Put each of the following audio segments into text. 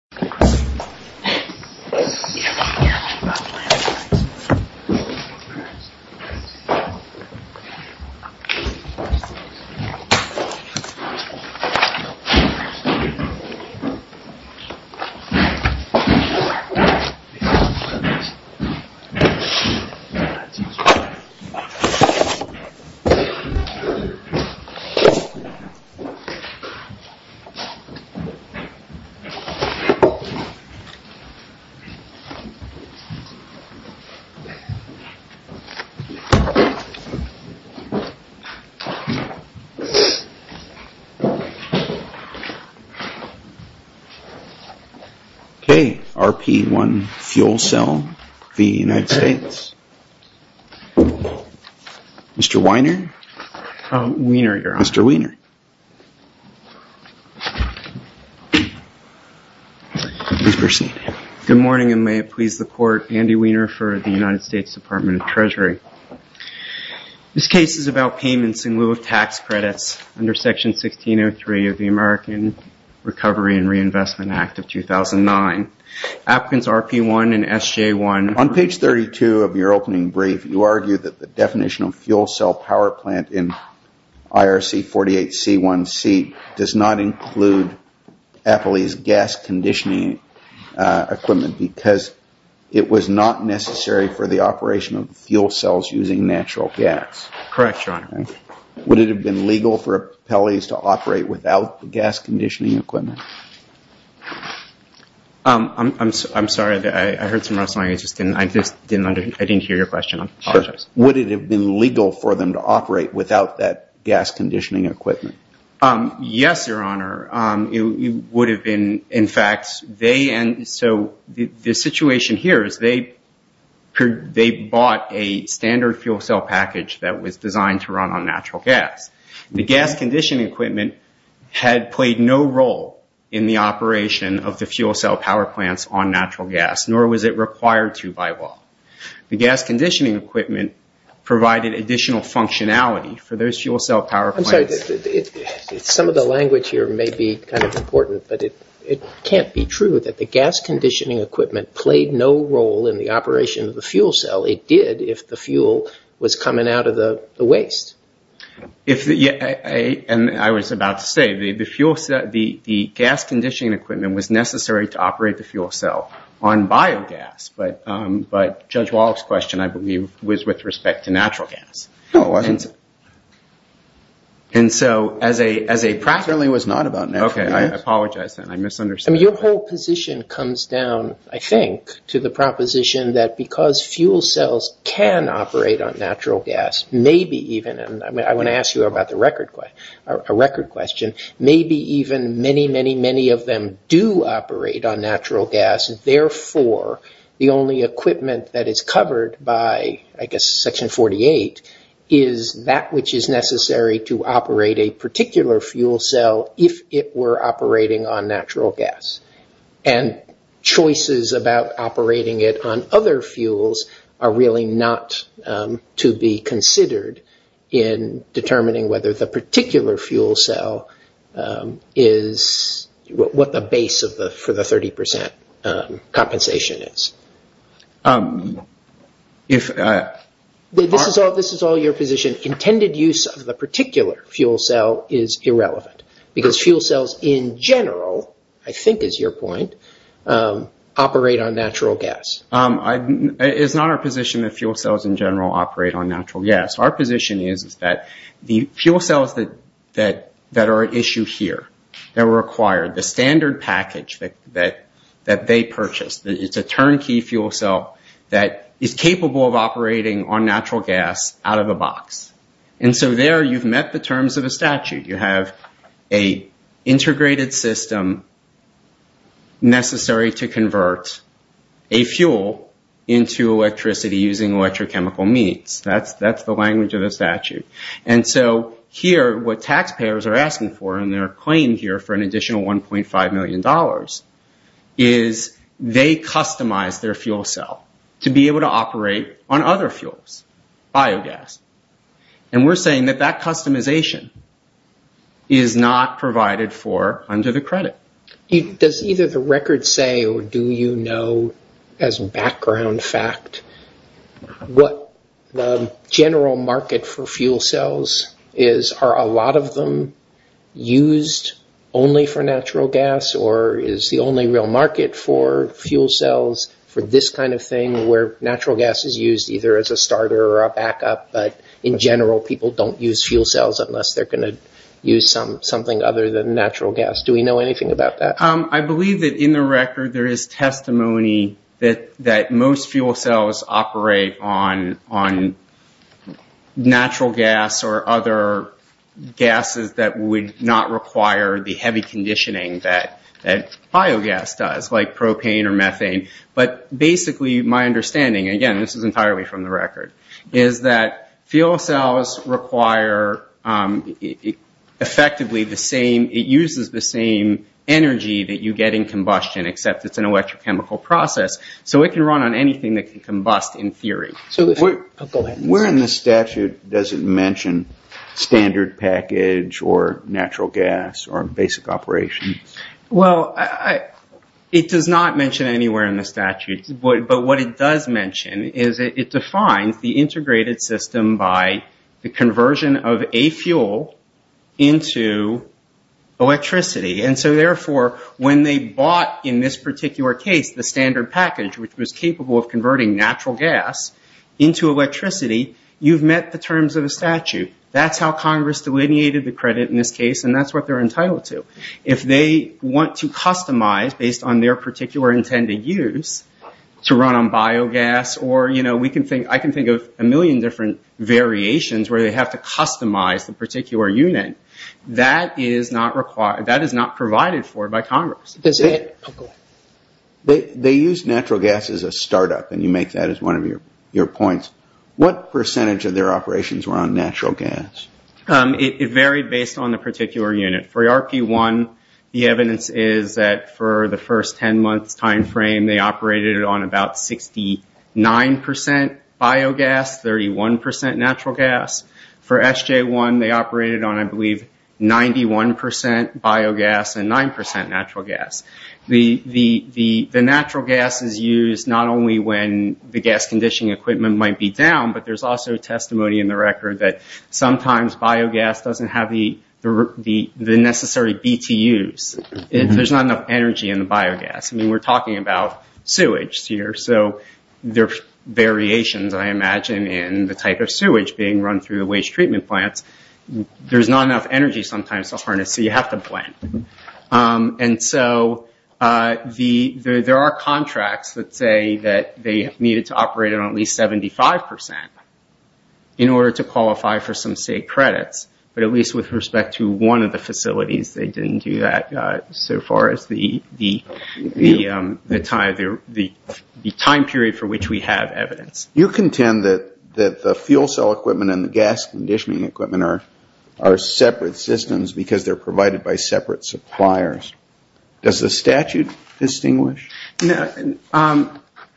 Hey, fella. Be careful, careful! Not the land rights. Hey, look at this. See that dude? Okay, RP-1 fuel cell, v. United States. Mr. Weiner? Weiner, Your Honor. Mr. Weiner. Please proceed. Good morning, and may it please the Court, Andy Weiner for the United States Department of Treasury. This case is about payments in lieu of tax credits under Section 1603 of the American Recovery and Reinvestment Act of 2009. Applicants RP-1 and SJ-1... argue that the definition of fuel cell power plant in IRC-48C1C does not include Appley's gas conditioning equipment because it was not necessary for the operation of fuel cells using natural gas. Correct, Your Honor. Would it have been legal for Appley's to operate without the gas conditioning equipment? I'm sorry, I heard some rustling. I just didn't hear your question. I apologize. Would it have been legal for them to operate without that gas conditioning equipment? Yes, Your Honor. It would have been. In fact, they... So the situation here is they bought a standard fuel cell package that was designed to run on natural gas. The gas conditioning equipment had played no role in the operation of the fuel cell power plants on natural gas, nor was it required to by law. The gas conditioning equipment provided additional functionality for those fuel cell power plants. I'm sorry, some of the language here may be kind of important, but it can't be true that the gas conditioning equipment played no role in the operation of the fuel cell. It did if the fuel was coming out of the waste. I was about to say, the gas conditioning equipment was necessary to operate the fuel cell on biogas, but Judge Wallach's question, I believe, was with respect to natural gas. No, it wasn't. And so as a practice... It certainly was not about natural gas. Okay, I apologize then. I misunderstood. I mean, your whole position comes down, I think, to the proposition that because fuel cells can operate on natural gas, maybe even, and I want to ask you about the record question, maybe even many, many, many of them do operate on natural gas. Therefore, the only equipment that is covered by, I guess, Section 48, is that which is necessary to operate a particular fuel cell if it were operating on natural gas. And choices about operating it on other fuels are really not to be considered in determining whether the particular fuel cell is what the base for the 30% compensation is. This is all your position. Intended use of the particular fuel cell is irrelevant, because fuel cells in general, I think is your point, operate on natural gas. It's not our position that fuel cells in general operate on natural gas. Our position is that the fuel cells that are at issue here, that were acquired, the standard package that they purchased, it's a turnkey fuel cell that is capable of operating on natural gas out of the box. And so there you've met the terms of the statute. You have an integrated system necessary to convert a fuel into electricity using electrochemical means. That's the language of the statute. And so here, what taxpayers are asking for in their claim here for an additional $1.5 million is they customize their fuel cell to be able to operate on other fuels, biogas. And we're saying that that customization is not provided for under the credit. Does either the record say or do you know as background fact what the general market for fuel cells is? Are a lot of them used only for natural gas or is the only real market for fuel cells for this kind of thing where natural gas is used either as a starter or a backup, but in general people don't use fuel cells unless they're going to use something other than natural gas. Do we know anything about that? I believe that in the record there is testimony that most fuel cells operate on natural gas or other gases that would not require the heavy conditioning that biogas does, like propane or methane. But basically my understanding, again this is entirely from the record, is that fuel cells require effectively the same, it uses the same energy that you get in combustion except it's an electrochemical process. So it can run on anything that can combust in theory. Where in the statute does it mention standard package or natural gas or basic operation? Well, it does not mention anywhere in the statute. But what it does mention is it defines the integrated system by the conversion of a fuel into electricity. And so therefore when they bought in this particular case the standard package, which was capable of converting natural gas into electricity, you've met the terms of the statute. That's how Congress delineated the credit in this case and that's what they're entitled to. If they want to customize based on their particular intended use to run on biogas, or I can think of a million different variations where they have to customize the particular unit, that is not provided for by Congress. They use natural gas as a startup and you make that as one of your points. What percentage of their operations were on natural gas? It varied based on the particular unit. For ARPA-E1 the evidence is that for the first 10 months' time frame they operated on about 69% biogas, 31% natural gas. For SJ-1 they operated on, I believe, 91% biogas and 9% natural gas. The natural gas is used not only when the gas conditioning equipment might be down, but there's also testimony in the record that sometimes biogas doesn't have the necessary BTUs. There's not enough energy in the biogas. We're talking about sewage here. There are variations, I imagine, in the type of sewage being run through the waste treatment plants. There's not enough energy sometimes to harness so you have to blend. There are contracts that say that they needed to operate on at least 75% in order to qualify for some state credits, but at least with respect to one of the facilities they didn't do that so far as the time period for which we have evidence. You contend that the fuel cell equipment and the gas conditioning equipment are separate systems because they're provided by separate suppliers. Does the statute distinguish?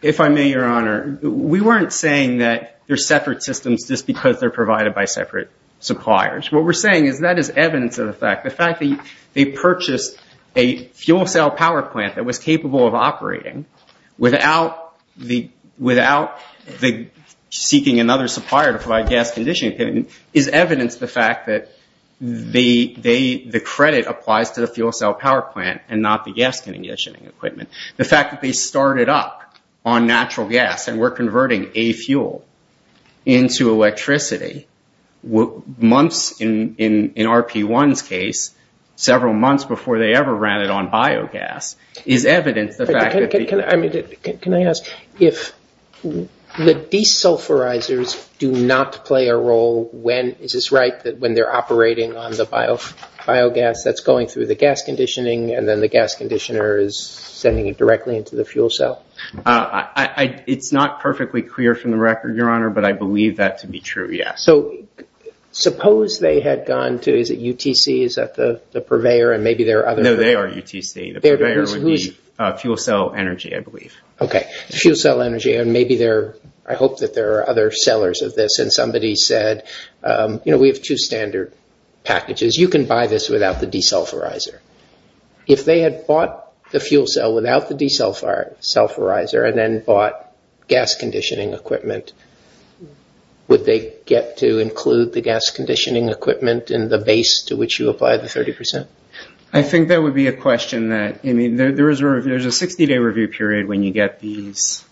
If I may, Your Honor, we weren't saying that they're separate systems just because they're provided by separate suppliers. What we're saying is that is evidence of the fact, the fact that they purchased a fuel cell power plant that was capable of operating without seeking another supplier to provide gas conditioning equipment is evidence of the fact that the credit applies to the fuel cell power plant and not the gas conditioning equipment. The fact that they started up on natural gas and we're converting a fuel into electricity, months in RP1's case, several months before they ever ran it on biogas, is evidence of the fact that... Can I ask if the desulfurizers do not play a role when, is this right, when they're operating on the biogas that's going through the gas conditioning and then the gas conditioner is sending it directly into the fuel cell? It's not perfectly clear from the record, Your Honor, but I believe that to be true, yes. So suppose they had gone to, is it UTC, is that the purveyor and maybe there are other... No, they are UTC. The purveyor would be fuel cell energy, I believe. Okay, fuel cell energy and maybe there are, I hope that there are other sellers of this and somebody said, you know, we have two standard packages. You can buy this without the desulfurizer. If they had bought the fuel cell without the desulfurizer and then bought gas conditioning equipment, would they get to include the gas conditioning equipment in the base to which you apply the 30%? I think that would be a question that, I mean, there's a 60-day review period when you get these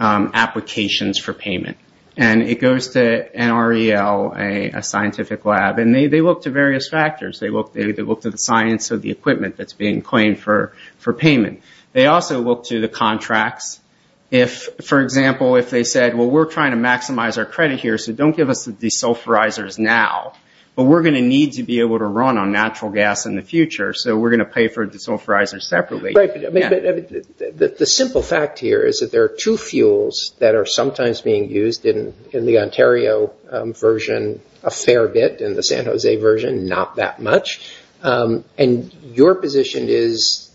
applications for payment. And it goes to NREL, a scientific lab, and they look to various factors. They look to the science of the equipment that's being claimed for payment. They also look to the contracts. If, for example, if they said, well, we're trying to maximize our credit here, so don't give us the desulfurizers now, but we're going to need to be able to run on natural gas in the future, so we're going to pay for desulfurizers separately. Right, but the simple fact here is that there are two fuels that are sometimes being used in the Ontario version a fair bit, in the San Jose version not that much. And your position is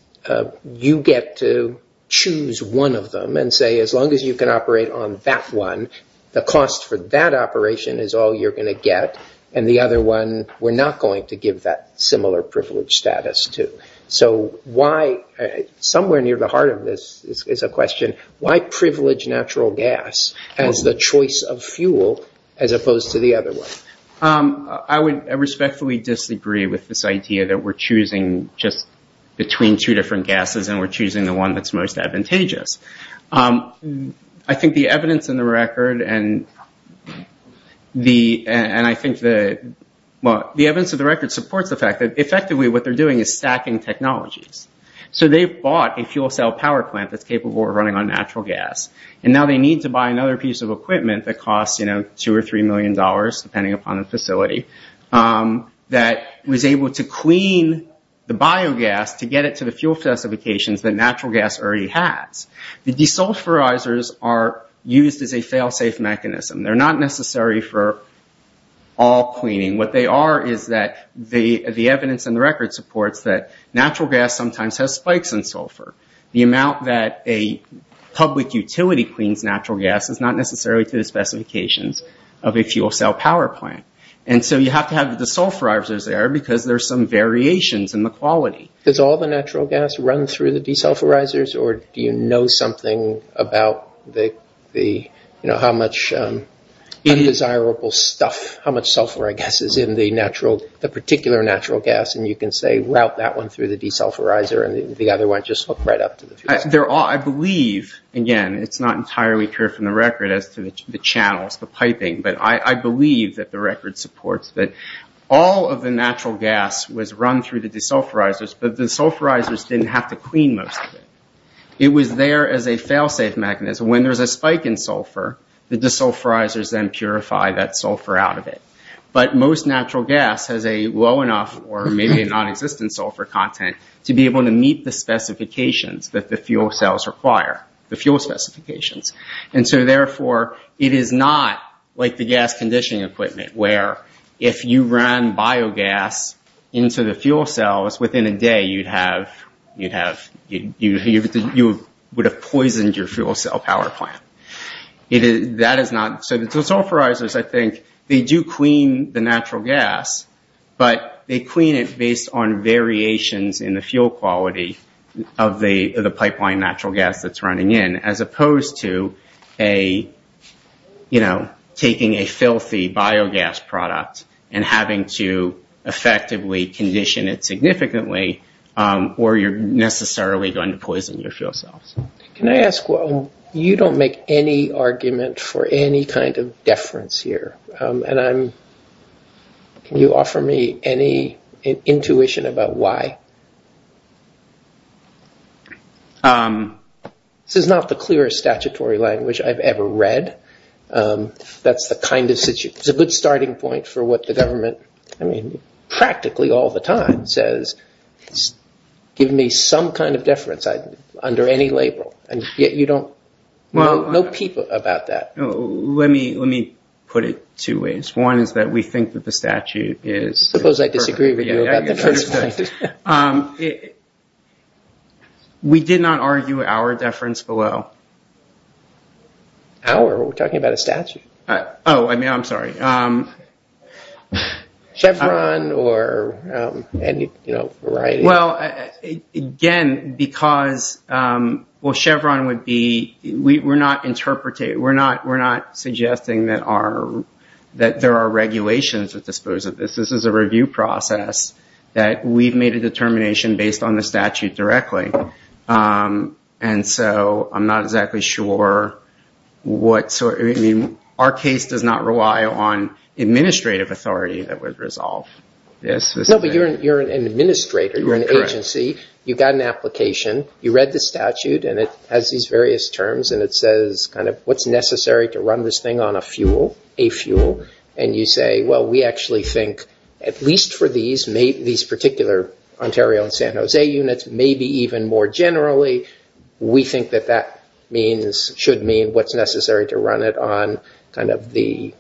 you get to choose one of them and say as long as you can operate on that one, the cost for that operation is all you're going to get, and the other one we're not going to give that similar privilege status to. So why, somewhere near the heart of this is a question, why privilege natural gas as the choice of fuel as opposed to the other one? I would respectfully disagree with this idea that we're choosing just between two different gases and we're choosing the one that's most advantageous. I think the evidence in the record supports the fact that effectively what they're doing is stacking technologies. So they've bought a fuel cell power plant that's capable of running on natural gas, and now they need to buy another piece of equipment that costs two or three million dollars, depending upon the facility, that was able to clean the biogas to get it to the fuel specifications that natural gas already has. The desulfurizers are used as a fail-safe mechanism. They're not necessary for all cleaning. What they are is that the evidence in the record supports that natural gas sometimes has spikes in sulfur. The amount that a public utility cleans natural gas is not necessarily to the specifications of a fuel cell power plant. And so you have to have the desulfurizers there because there's some variations in the quality. Does all the natural gas run through the desulfurizers, or do you know something about how much indesirable stuff, how much sulfur, I guess, is in the particular natural gas, and you can say route that one through the desulfurizer and the other one just hook right up to the fuel cell? I believe, again, it's not entirely clear from the record as to the channels, the piping, but I believe that the record supports that all of the natural gas was run through the desulfurizers, but the desulfurizers didn't have to clean most of it. It was there as a fail-safe mechanism. When there's a spike in sulfur, the desulfurizers then purify that sulfur out of it. But most natural gas has a low enough or maybe a nonexistent sulfur content to be able to meet the specifications that the fuel cells require, the fuel specifications. Therefore, it is not like the gas conditioning equipment where if you run biogas into the fuel cells, within a day you would have poisoned your fuel cell power plant. The desulfurizers, I think, they do clean the natural gas, but they clean it based on variations in the fuel quality of the pipeline natural gas that's running in as opposed to taking a filthy biogas product and having to effectively condition it significantly or you're necessarily going to poison your fuel cells. Can I ask, you don't make any argument for any kind of deference here. Can you offer me any intuition about why? This is not the clearest statutory language I've ever read. That's the kind of situation. It's a good starting point for what the government practically all the time says is giving me some kind of deference under any label, and yet you don't know people about that. Let me put it two ways. One is that we think that the statute is perfect. Suppose I disagree with you about the first point. We did not argue our deference below. Our? We're talking about a statute. I'm sorry. Chevron or any variety? Again, Chevron would be, we're not suggesting that there are regulations that dispose of this. This is a review process that we've made a determination based on the statute directly, and so I'm not exactly sure. Our case does not rely on administrative authority that would resolve this. No, but you're an administrator. You're an agency. You've got an application. You read the statute, and it has these various terms, and you say, well, we actually think at least for these particular Ontario and San Jose units, maybe even more generally, we think that that means, should mean, what's necessary to run it on kind of the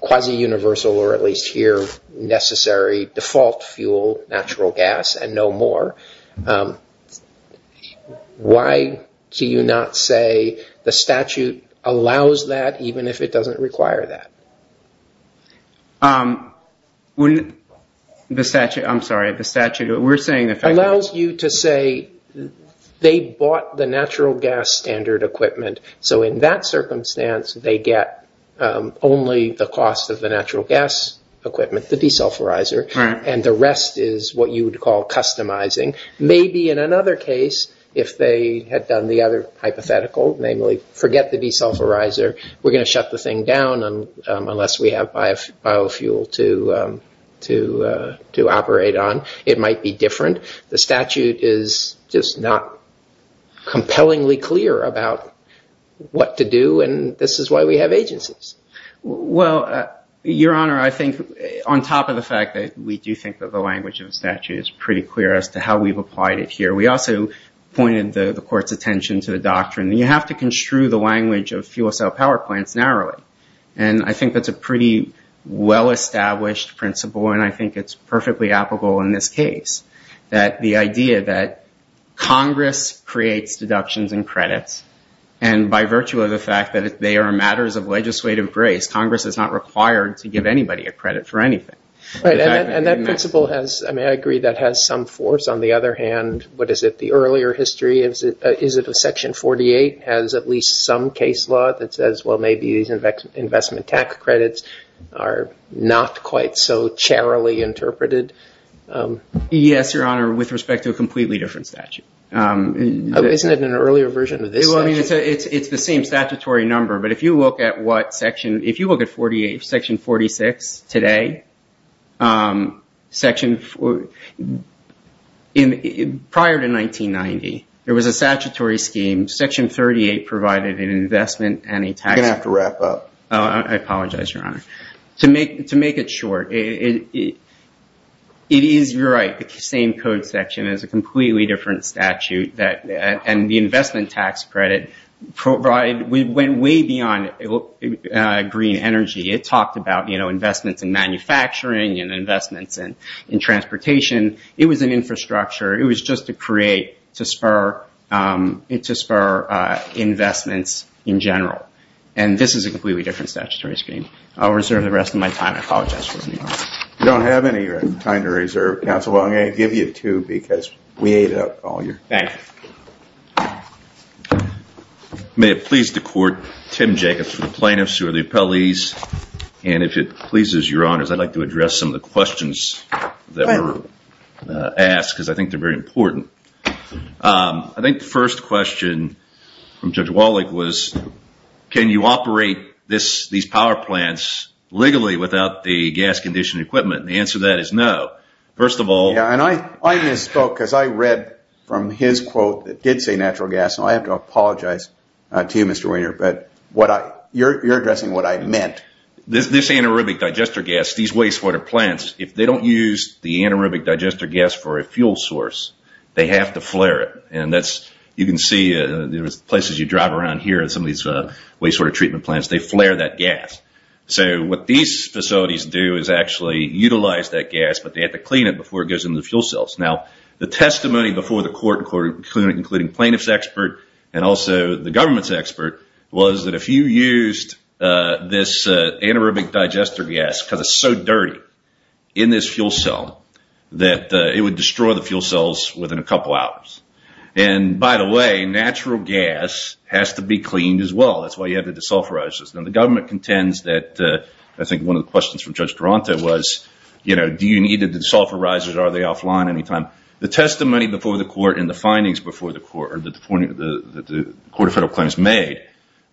quasi-universal, or at least here, necessary default fuel, natural gas, and no more. Why do you not say the statute allows that even if it doesn't require that? The statute, I'm sorry, the statute, we're saying the fact that it's... Allows you to say they bought the natural gas standard equipment, so in that circumstance they get only the cost of the natural gas equipment, the desulphurizer, and the rest is what you would call customizing. Maybe in another case, if they had done the other hypothetical, namely forget the desulphurizer, we're going to shut the thing down unless we have biofuel to operate on. It might be different. The statute is just not compellingly clear about what to do, and this is why we have agencies. Well, Your Honor, I think on top of the fact that we do think that the language of the statute is pretty clear as to how we've applied it here, we also pointed the court's attention to the doctrine that you have to construe the language of fuel cell power plants narrowly, and I think that's a pretty well-established principle, and I think it's perfectly applicable in this case, that the idea that Congress creates deductions and credits, and by virtue of the fact that they are matters of legislative grace, Congress is not required to give anybody a credit for anything. Right, and that principle has, I mean, I agree that has some force. On the other hand, what is it, the earlier history, is it Section 48 has at least some case law that says, well, maybe these investment tax credits are not quite so charitably interpreted? Yes, Your Honor, with respect to a completely different statute. Isn't it an earlier version of this? It's the same statutory number, but if you look at what section, if you look at Section 46 today, prior to 1990, there was a statutory scheme. Section 38 provided an investment and a tax. You're going to have to wrap up. I apologize, Your Honor. To make it short, it is, you're right, the same code section. It's a completely different statute, and the investment tax credit went way beyond green energy. It talked about investments in manufacturing and investments in transportation. It was an infrastructure. It was just to create, to spur investments in general, and this is a completely different statutory scheme. I'll reserve the rest of my time. I apologize, Your Honor. You don't have any time to reserve, Counsel. I'm going to give you two, because we ate it up all year. Thank you. May it please the Court, Tim Jacobs for the plaintiffs who are the appellees, and if it pleases Your Honors, I'd like to address some of the questions that were asked, because I think they're very important. I think the first question from Judge Wallach was, can you operate these power plants legally without the gas-conditioned equipment? The answer to that is no. First of all... I misspoke, because I read from his quote that did say natural gas, and I have to apologize to you, Mr. Wiener, but you're addressing what I meant. This anaerobic digester gas, these wastewater plants, if they don't use the anaerobic digester gas for a fuel source, they have to flare it. You can see in places you drive around here, in some of these wastewater treatment plants, they flare that gas. So what these facilities do is actually utilize that gas, but they have to clean it before it goes into the fuel cells. Now, the testimony before the Court, including plaintiff's expert, and also the government's expert, was that if you used this anaerobic digester gas because it's so dirty in this fuel cell, that it would destroy the fuel cells within a couple hours. And, by the way, natural gas has to be cleaned as well. That's why you have the desulphurizers. Now, the government contends that... I think one of the questions from Judge Taranto was, do you need the desulphurizers or are they offline any time? The testimony before the Court and the findings before the Court, or the Court of Federal Claims made,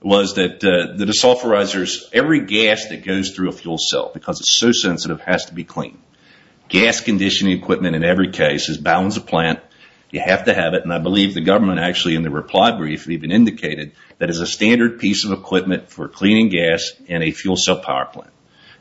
was that the desulphurizers, every gas that goes through a fuel cell, because it's so sensitive, has to be cleaned. Gas conditioning equipment, in every case, is a balance of plant. You have to have it. And I believe the government actually, in their reply brief, even indicated that it's a standard piece of equipment for cleaning gas in a fuel cell power plant.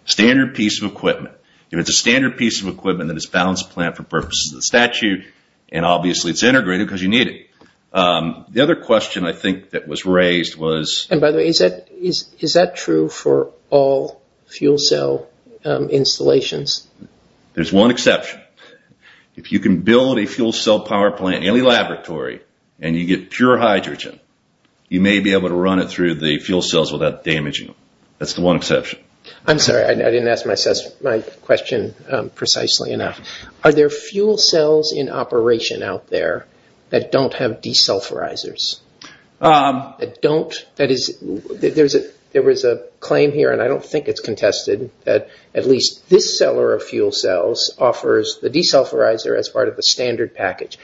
Standard piece of equipment. If it's a standard piece of equipment, then it's a balance of plant for purposes of the statute, and obviously it's integrated because you need it. The other question I think that was raised was... And by the way, is that true for all fuel cell installations? There's one exception. If you can build a fuel cell power plant in any laboratory, and you get pure hydrogen, you may be able to run it through the fuel cells without damaging them. That's the one exception. I'm sorry, I didn't ask my question precisely enough. Are there fuel cells in operation out there that don't have desulfurizers? That don't? There was a claim here, and I don't think it's contested, that at least this seller of fuel cells offers the desulfurizer as part of the standard package.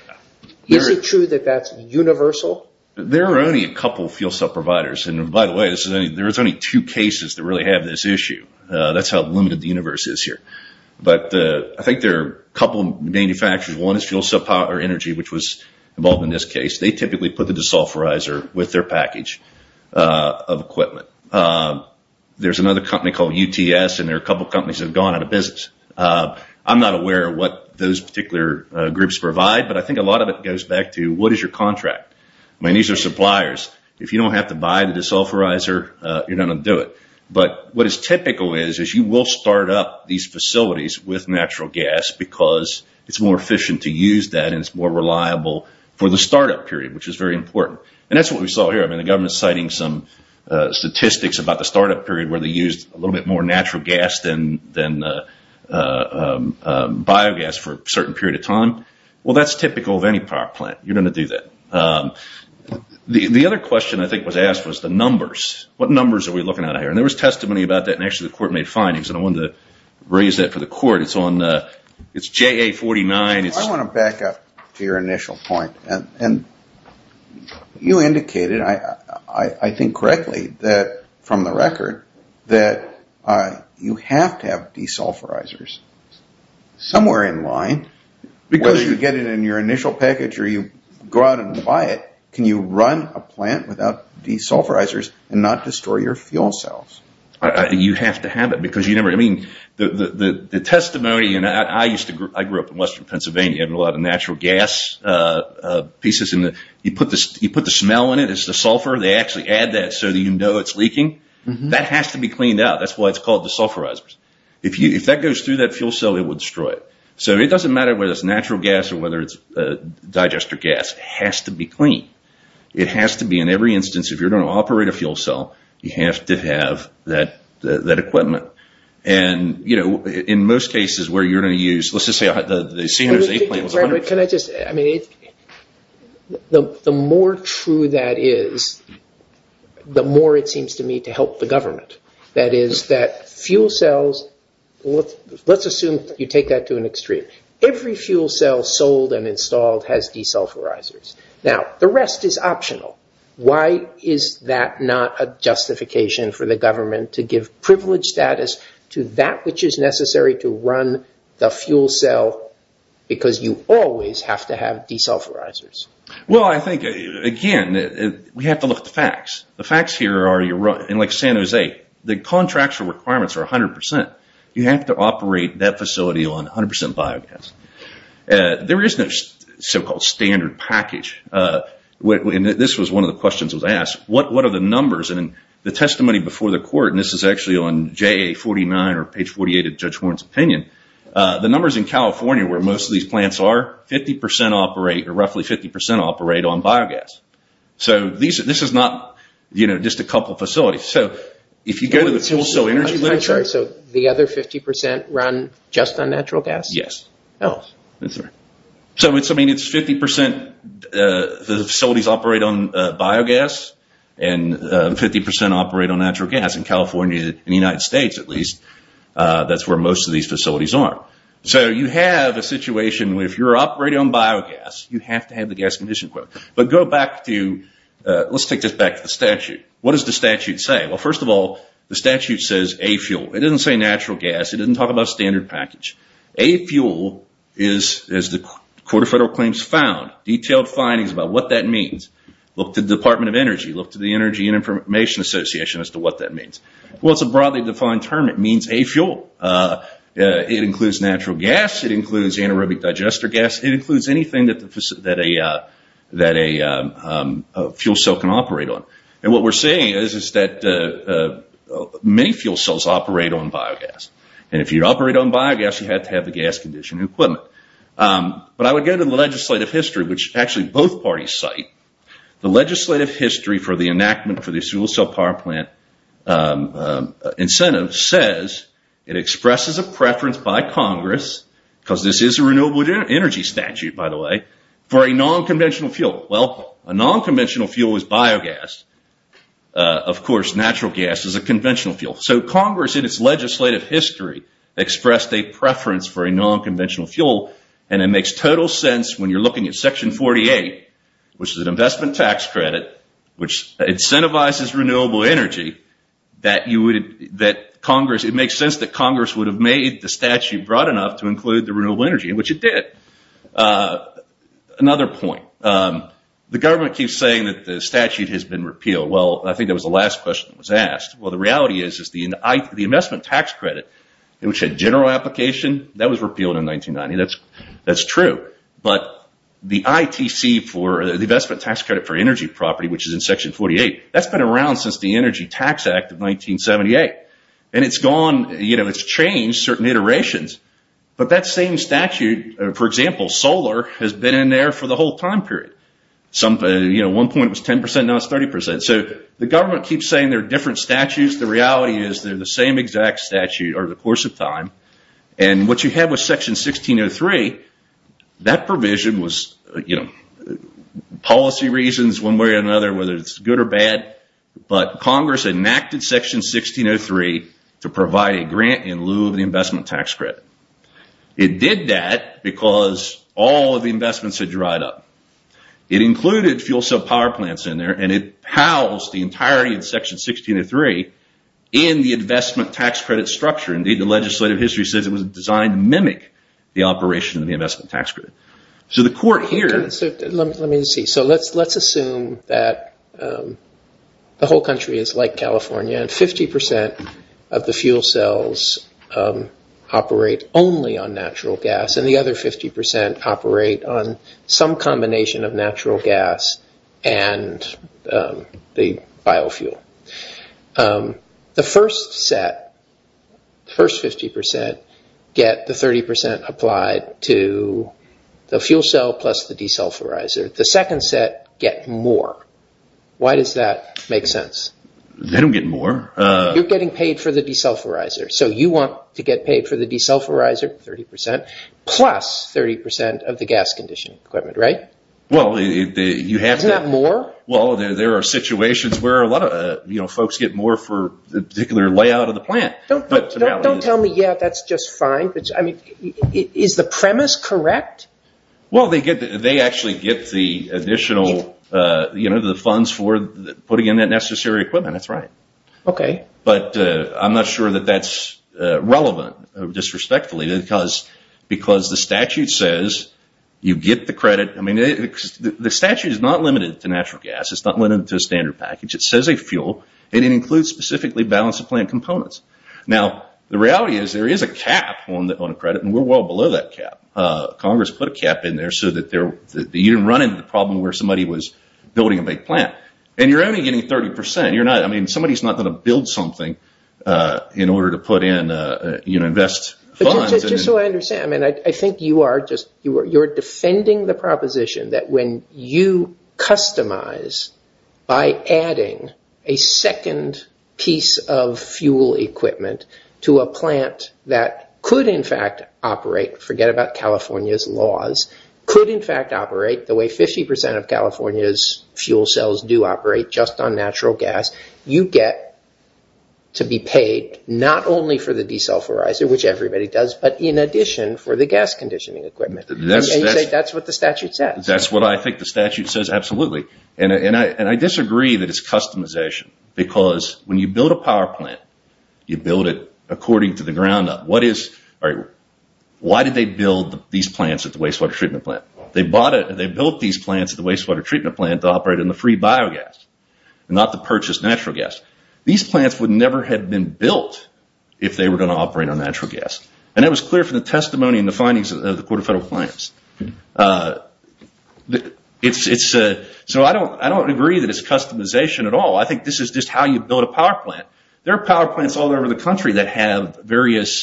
Is it true that that's universal? There are only a couple of fuel cell providers. And by the way, there's only two cases that really have this issue. That's how limited the universe is here. I think there are a couple of manufacturers. One is Fuel Cell Power Energy, which was involved in this case. They typically put the desulfurizer with their package of equipment. There's another company called UTS, and there are a couple of companies that have gone out of business. I'm not aware of what those particular groups provide, but I think a lot of it goes back to, what is your contract? These are suppliers. If you don't have to buy the desulfurizer, you're not going to do it. But what is typical is, is you will start up these facilities with natural gas because it's more efficient to use that and it's more reliable for the startup period, which is very important. And that's what we saw here. I mean, the government's citing some statistics about the startup period where they used a little bit more natural gas than biogas for a certain period of time. Well, that's typical of any power plant. You're going to do that. The other question I think was asked was the numbers. What numbers are we looking at here? And there was testimony about that, and actually the court made findings, and I wanted to raise that for the court. It's JA-49. I want to back up to your initial point. And you indicated, I think correctly from the record, that you have to have desulfurizers somewhere in line. Whether you get it in your initial package or you go out and buy it, can you run a plant without desulfurizers and not destroy your fuel cells? You have to have it. I mean, the testimony, and I grew up in western Pennsylvania, had a lot of natural gas pieces. You put the smell in it, it's the sulfur. They actually add that so that you know it's leaking. That has to be cleaned out. That's why it's called desulfurizers. If that goes through that fuel cell, it will destroy it. So it doesn't matter whether it's natural gas or whether it's digester gas. It just has to be clean. It has to be. In every instance, if you're going to operate a fuel cell, you have to have that equipment. And, you know, in most cases where you're going to use, let's just say the San Jose plant. Can I just, I mean, the more true that is, the more it seems to me to help the government. That is that fuel cells, let's assume you take that to an extreme. Every fuel cell sold and installed has desulfurizers. Now, the rest is optional. Why is that not a justification for the government to give privileged status to that which is necessary to run the fuel cell, because you always have to have desulfurizers? Well, I think, again, we have to look at the facts. The facts here are, like San Jose, the contracts and requirements are 100%. You have to operate that facility on 100% biogas. There is no so-called standard package. This was one of the questions that was asked. What are the numbers? And in the testimony before the court, and this is actually on JA 49 or page 48 of Judge Warren's opinion, the numbers in California where most of these plants are, roughly 50% operate on biogas. So this is not just a couple of facilities. So if you go to the fuel cell energy literature. So the other 50% run just on natural gas? Yes. Oh. I'm sorry. So, I mean, it's 50% the facilities operate on biogas and 50% operate on natural gas. In California, in the United States at least, that's where most of these facilities are. So you have a situation where if you're operating on biogas, But go back to, let's take this back to the statute. What does the statute say? Well, first of all, the statute says a fuel. It doesn't say natural gas. It doesn't talk about standard package. A fuel is, as the Court of Federal Claims found, detailed findings about what that means. Look to the Department of Energy. Look to the Energy and Information Association as to what that means. Well, it's a broadly defined term. It means a fuel. It includes natural gas. It includes anaerobic digester gas. It includes anything that a fuel cell can operate on. And what we're saying is that many fuel cells operate on biogas. And if you operate on biogas, you have to have the gas conditioning equipment. But I would go to the legislative history, which actually both parties cite. The legislative history for the enactment for the fuel cell power plant incentive says it expresses a preference by Congress, because this is a renewable energy statute, by the way, for a non-conventional fuel. Well, a non-conventional fuel is biogas. Of course, natural gas is a conventional fuel. So Congress, in its legislative history, expressed a preference for a non-conventional fuel. And it makes total sense when you're looking at Section 48, which is an investment tax credit, which incentivizes renewable energy, that it makes sense that Congress would have made the statute broad enough to include the renewable energy, which it did. Another point. The government keeps saying that the statute has been repealed. Well, I think that was the last question that was asked. Well, the reality is the investment tax credit, which had general application, that was repealed in 1990. That's true. But the ITC for the investment tax credit for energy property, which is in Section 48, that's been around since the Energy Tax Act of 1978. And it's changed certain iterations. But that same statute, for example, solar, has been in there for the whole time period. At one point it was 10%. Now it's 30%. So the government keeps saying there are different statutes. The reality is they're the same exact statute over the course of time. And what you have with Section 1603, that provision was policy reasons one way or another, But Congress enacted Section 1603 to provide a grant in lieu of the investment tax credit. It did that because all of the investments had dried up. It included fuel cell power plants in there, and it housed the entirety of Section 1603 in the investment tax credit structure. Indeed, the legislative history says it was designed to mimic the operation of the investment tax credit. So the court here... Let me see. So let's assume that the whole country is like California and 50% of the fuel cells operate only on natural gas and the other 50% operate on some combination of natural gas and the biofuel. The first set, the first 50%, get the 30% applied to the fuel cell plus the desulfurizer. The second set get more. Why does that make sense? They don't get more. You're getting paid for the desulfurizer. So you want to get paid for the desulfurizer, 30%, plus 30% of the gas conditioning equipment, right? Well, you have to... Isn't that more? Well, there are situations where a lot of folks get more for the particular layout of the plant. Don't tell me, yeah, that's just fine. I mean, is the premise correct? Well, they actually get the additional, you know, the funds for putting in that necessary equipment. That's right. Okay. But I'm not sure that that's relevant disrespectfully because the statute says you get the credit. I mean, the statute is not limited to natural gas. It's not limited to a standard package. It says a fuel. It includes specifically balance of plant components. Now, the reality is there is a cap on the credit, and we're well below that cap. Congress put a cap in there so that you didn't run into the problem where somebody was building a big plant. And you're only getting 30%. I mean, somebody's not going to build something in order to put in, you know, invest funds. Just so I understand, I mean, I think you are just defending the proposition that when you customize by adding a second piece of fuel equipment to a plant that could, in fact, operate, forget about California's laws, could, in fact, operate the way 50% of California's fuel cells do operate just on natural gas, you get to be paid not only for the desulfurizer, which everybody does, but in addition for the gas conditioning equipment. And you say that's what the statute says. That's what I think the statute says, absolutely. And I disagree that it's customization because when you build a power plant, you build it according to the ground up. Why did they build these plants at the wastewater treatment plant? They built these plants at the wastewater treatment plant to operate in the free biogas, not to purchase natural gas. These plants would never have been built if they were going to operate on natural gas. And that was clear from the testimony and the findings of the court of federal plans. So I don't agree that it's customization at all. I think this is just how you build a power plant. There are power plants all over the country that have various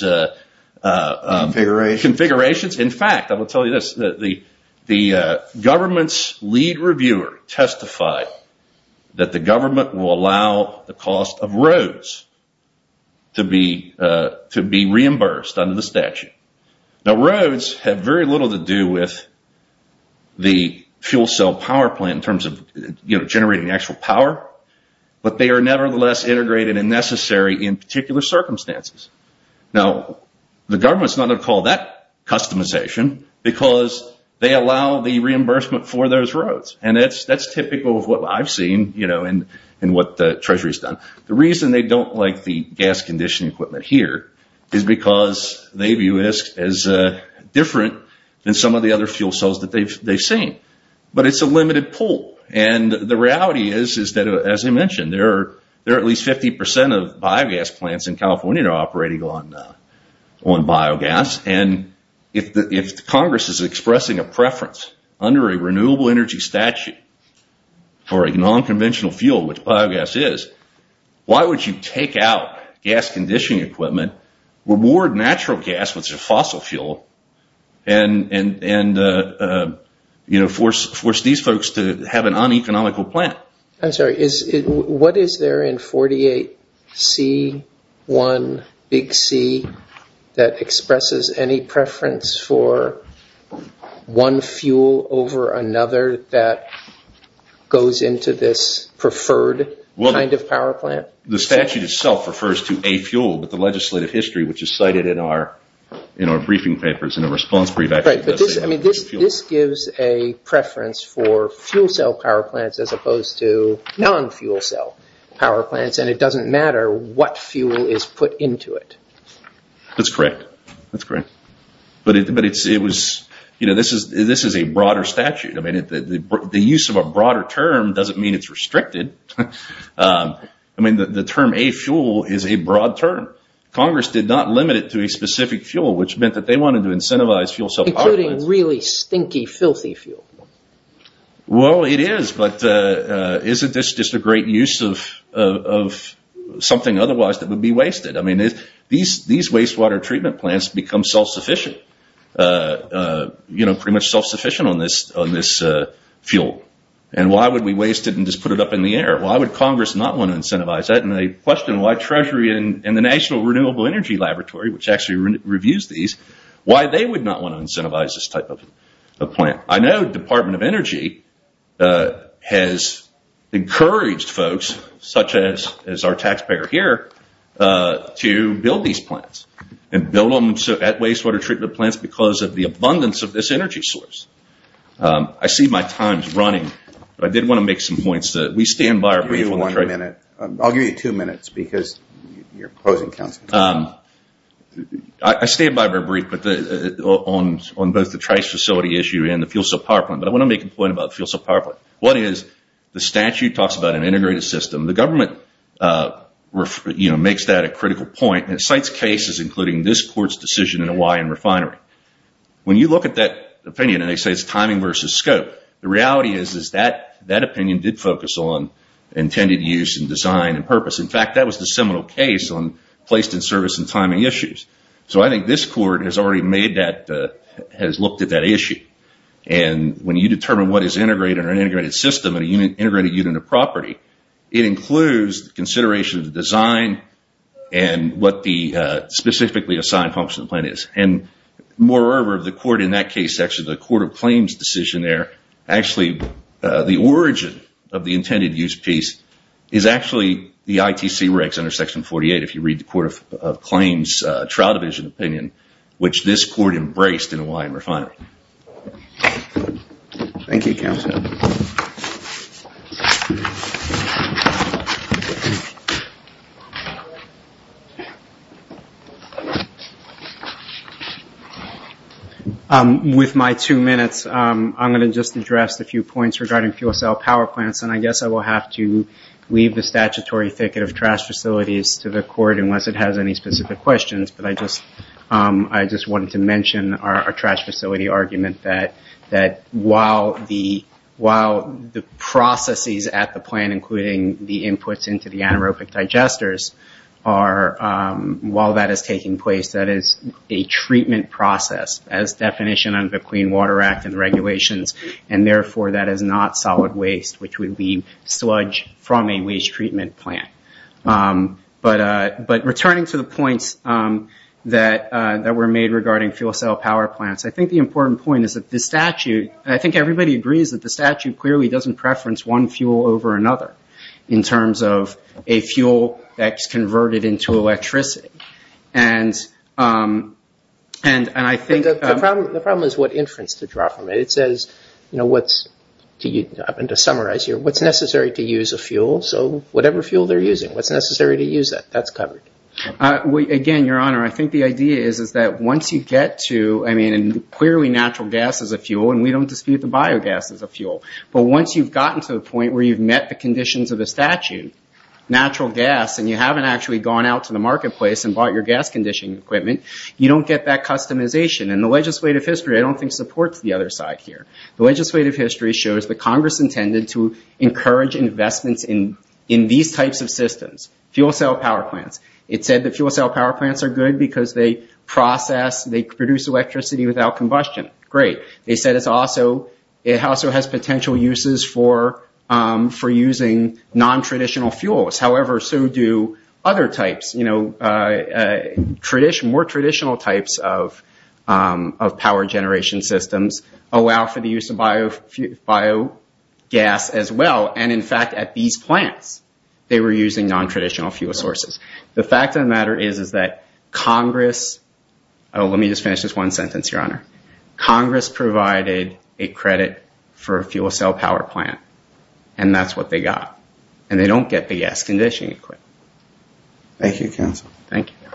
configurations. In fact, I will tell you this. The government's lead reviewer testified that the government will allow the cost of roads to be reimbursed under the statute. Now, roads have very little to do with the fuel cell power plant in terms of generating actual power, but they are nevertheless integrated and necessary in particular circumstances. Now, the government's not going to call that customization because they allow the reimbursement for those roads. And that's typical of what I've seen in what the Treasury's done. The reason they don't like the gas conditioning equipment here is because they view this as different than some of the other fuel cells that they've seen. But it's a limited pool. And the reality is that, as I mentioned, there are at least 50% of biogas plants in California that are operating on biogas. And if Congress is expressing a preference under a renewable energy statute for a nonconventional fuel, which biogas is, why would you take out gas conditioning equipment, reward natural gas, which is a fossil fuel, and force these folks to have an uneconomical plant? I'm sorry. What is there in 48C-1-C that expresses any preference for one fuel over another that goes into this preferred kind of power plant? The statute itself refers to a fuel, but the legislative history, which is cited in our briefing papers and our response brief, actually does say that. Right. But this gives a preference for fuel cell power plants as opposed to non-fuel cell power plants, and it doesn't matter what fuel is put into it. That's correct. That's correct. But this is a broader statute. I mean, the use of a broader term doesn't mean it's restricted. I mean, the term a-fuel is a broad term. Congress did not limit it to a specific fuel, which meant that they wanted to incentivize fuel cell power plants. Including really stinky, filthy fuel. Well, it is, but isn't this just a great use of something otherwise that would be wasted? I mean, these wastewater treatment plants become self-sufficient, you know, pretty much self-sufficient on this fuel. And why would we waste it and just put it up in the air? Why would Congress not want to incentivize that? And they question why Treasury and the National Renewable Energy Laboratory, which actually reviews these, why they would not want to incentivize this type of plant. I know the Department of Energy has encouraged folks, such as our taxpayer here, to build these plants and build them at wastewater treatment plants because of the abundance of this energy source. I see my time's running, but I did want to make some points. We stand by our brief on the Treasury. I'll give you two minutes because you're closing council. I stand by our brief on both the trace facility issue and the fuel cell power plant, but I want to make a point about the fuel cell power plant. One is, the statute talks about an integrated system. The government makes that a critical point and it cites cases, including this court's decision in the Hawaiian refinery. When you look at that opinion and they say it's timing versus scope, the reality is that opinion did focus on intended use and design and purpose. In fact, that was the seminal case on placed in service and timing issues. I think this court has already looked at that issue. When you determine what is an integrated system and an integrated unit of property, it includes consideration of the design and what the specifically assigned function of the plant is. Moreover, the court in that case, actually the court of claims decision there, actually the origin of the intended use piece is actually the ITC regs under section 48, if you read the court of claims trial division opinion, which this court embraced in the Hawaiian refinery. Thank you, counsel. With my two minutes, I'm going to just address a few points regarding fuel cell power plants. I guess I will have to leave the statutory ticket of trash facilities to the court, unless it has any specific questions. I just wanted to mention our trash facility argument that while the processes at the plant, including the inputs into the anaerobic digesters, while that is taking place, that is a treatment process as definition under the Clean Water Act and regulations. Therefore, that is not solid waste, which would be sludge from a waste treatment plant. Returning to the points that were made regarding fuel cell power plants, I think the important point is that the statute, I think everybody agrees that the statute clearly doesn't preference one fuel over another, in terms of a fuel that's converted into electricity. The problem is what inference to draw from it. It says, to summarize here, what's necessary to use a fuel, so whatever fuel they're using, what's necessary to use that, that's covered. Again, Your Honor, I think the idea is that once you get to, and clearly natural gas is a fuel, and we don't dispute the biogas as a fuel, but once you've gotten to the point where you've met the conditions of the statute, natural gas, and you haven't actually gone out to the marketplace and bought your gas conditioning equipment, you don't get that customization. The legislative history, I don't think, supports the other side here. The legislative history shows that Congress intended to encourage investments in these types of systems, fuel cell power plants. It said that fuel cell power plants are good because they process, they produce electricity without combustion. Great. They said it also has potential uses for using non-traditional fuels. However, so do other types, more traditional types of power generation systems, allow for the use of biogas as well, and in fact, at these plants, they were using non-traditional fuel sources. The fact of the matter is that Congress, let me just finish this one sentence, Your Honor. Congress provided a credit for a fuel cell power plant, and that's what they got, and they don't get the gas conditioning equipment. Thank you, counsel. Thank you.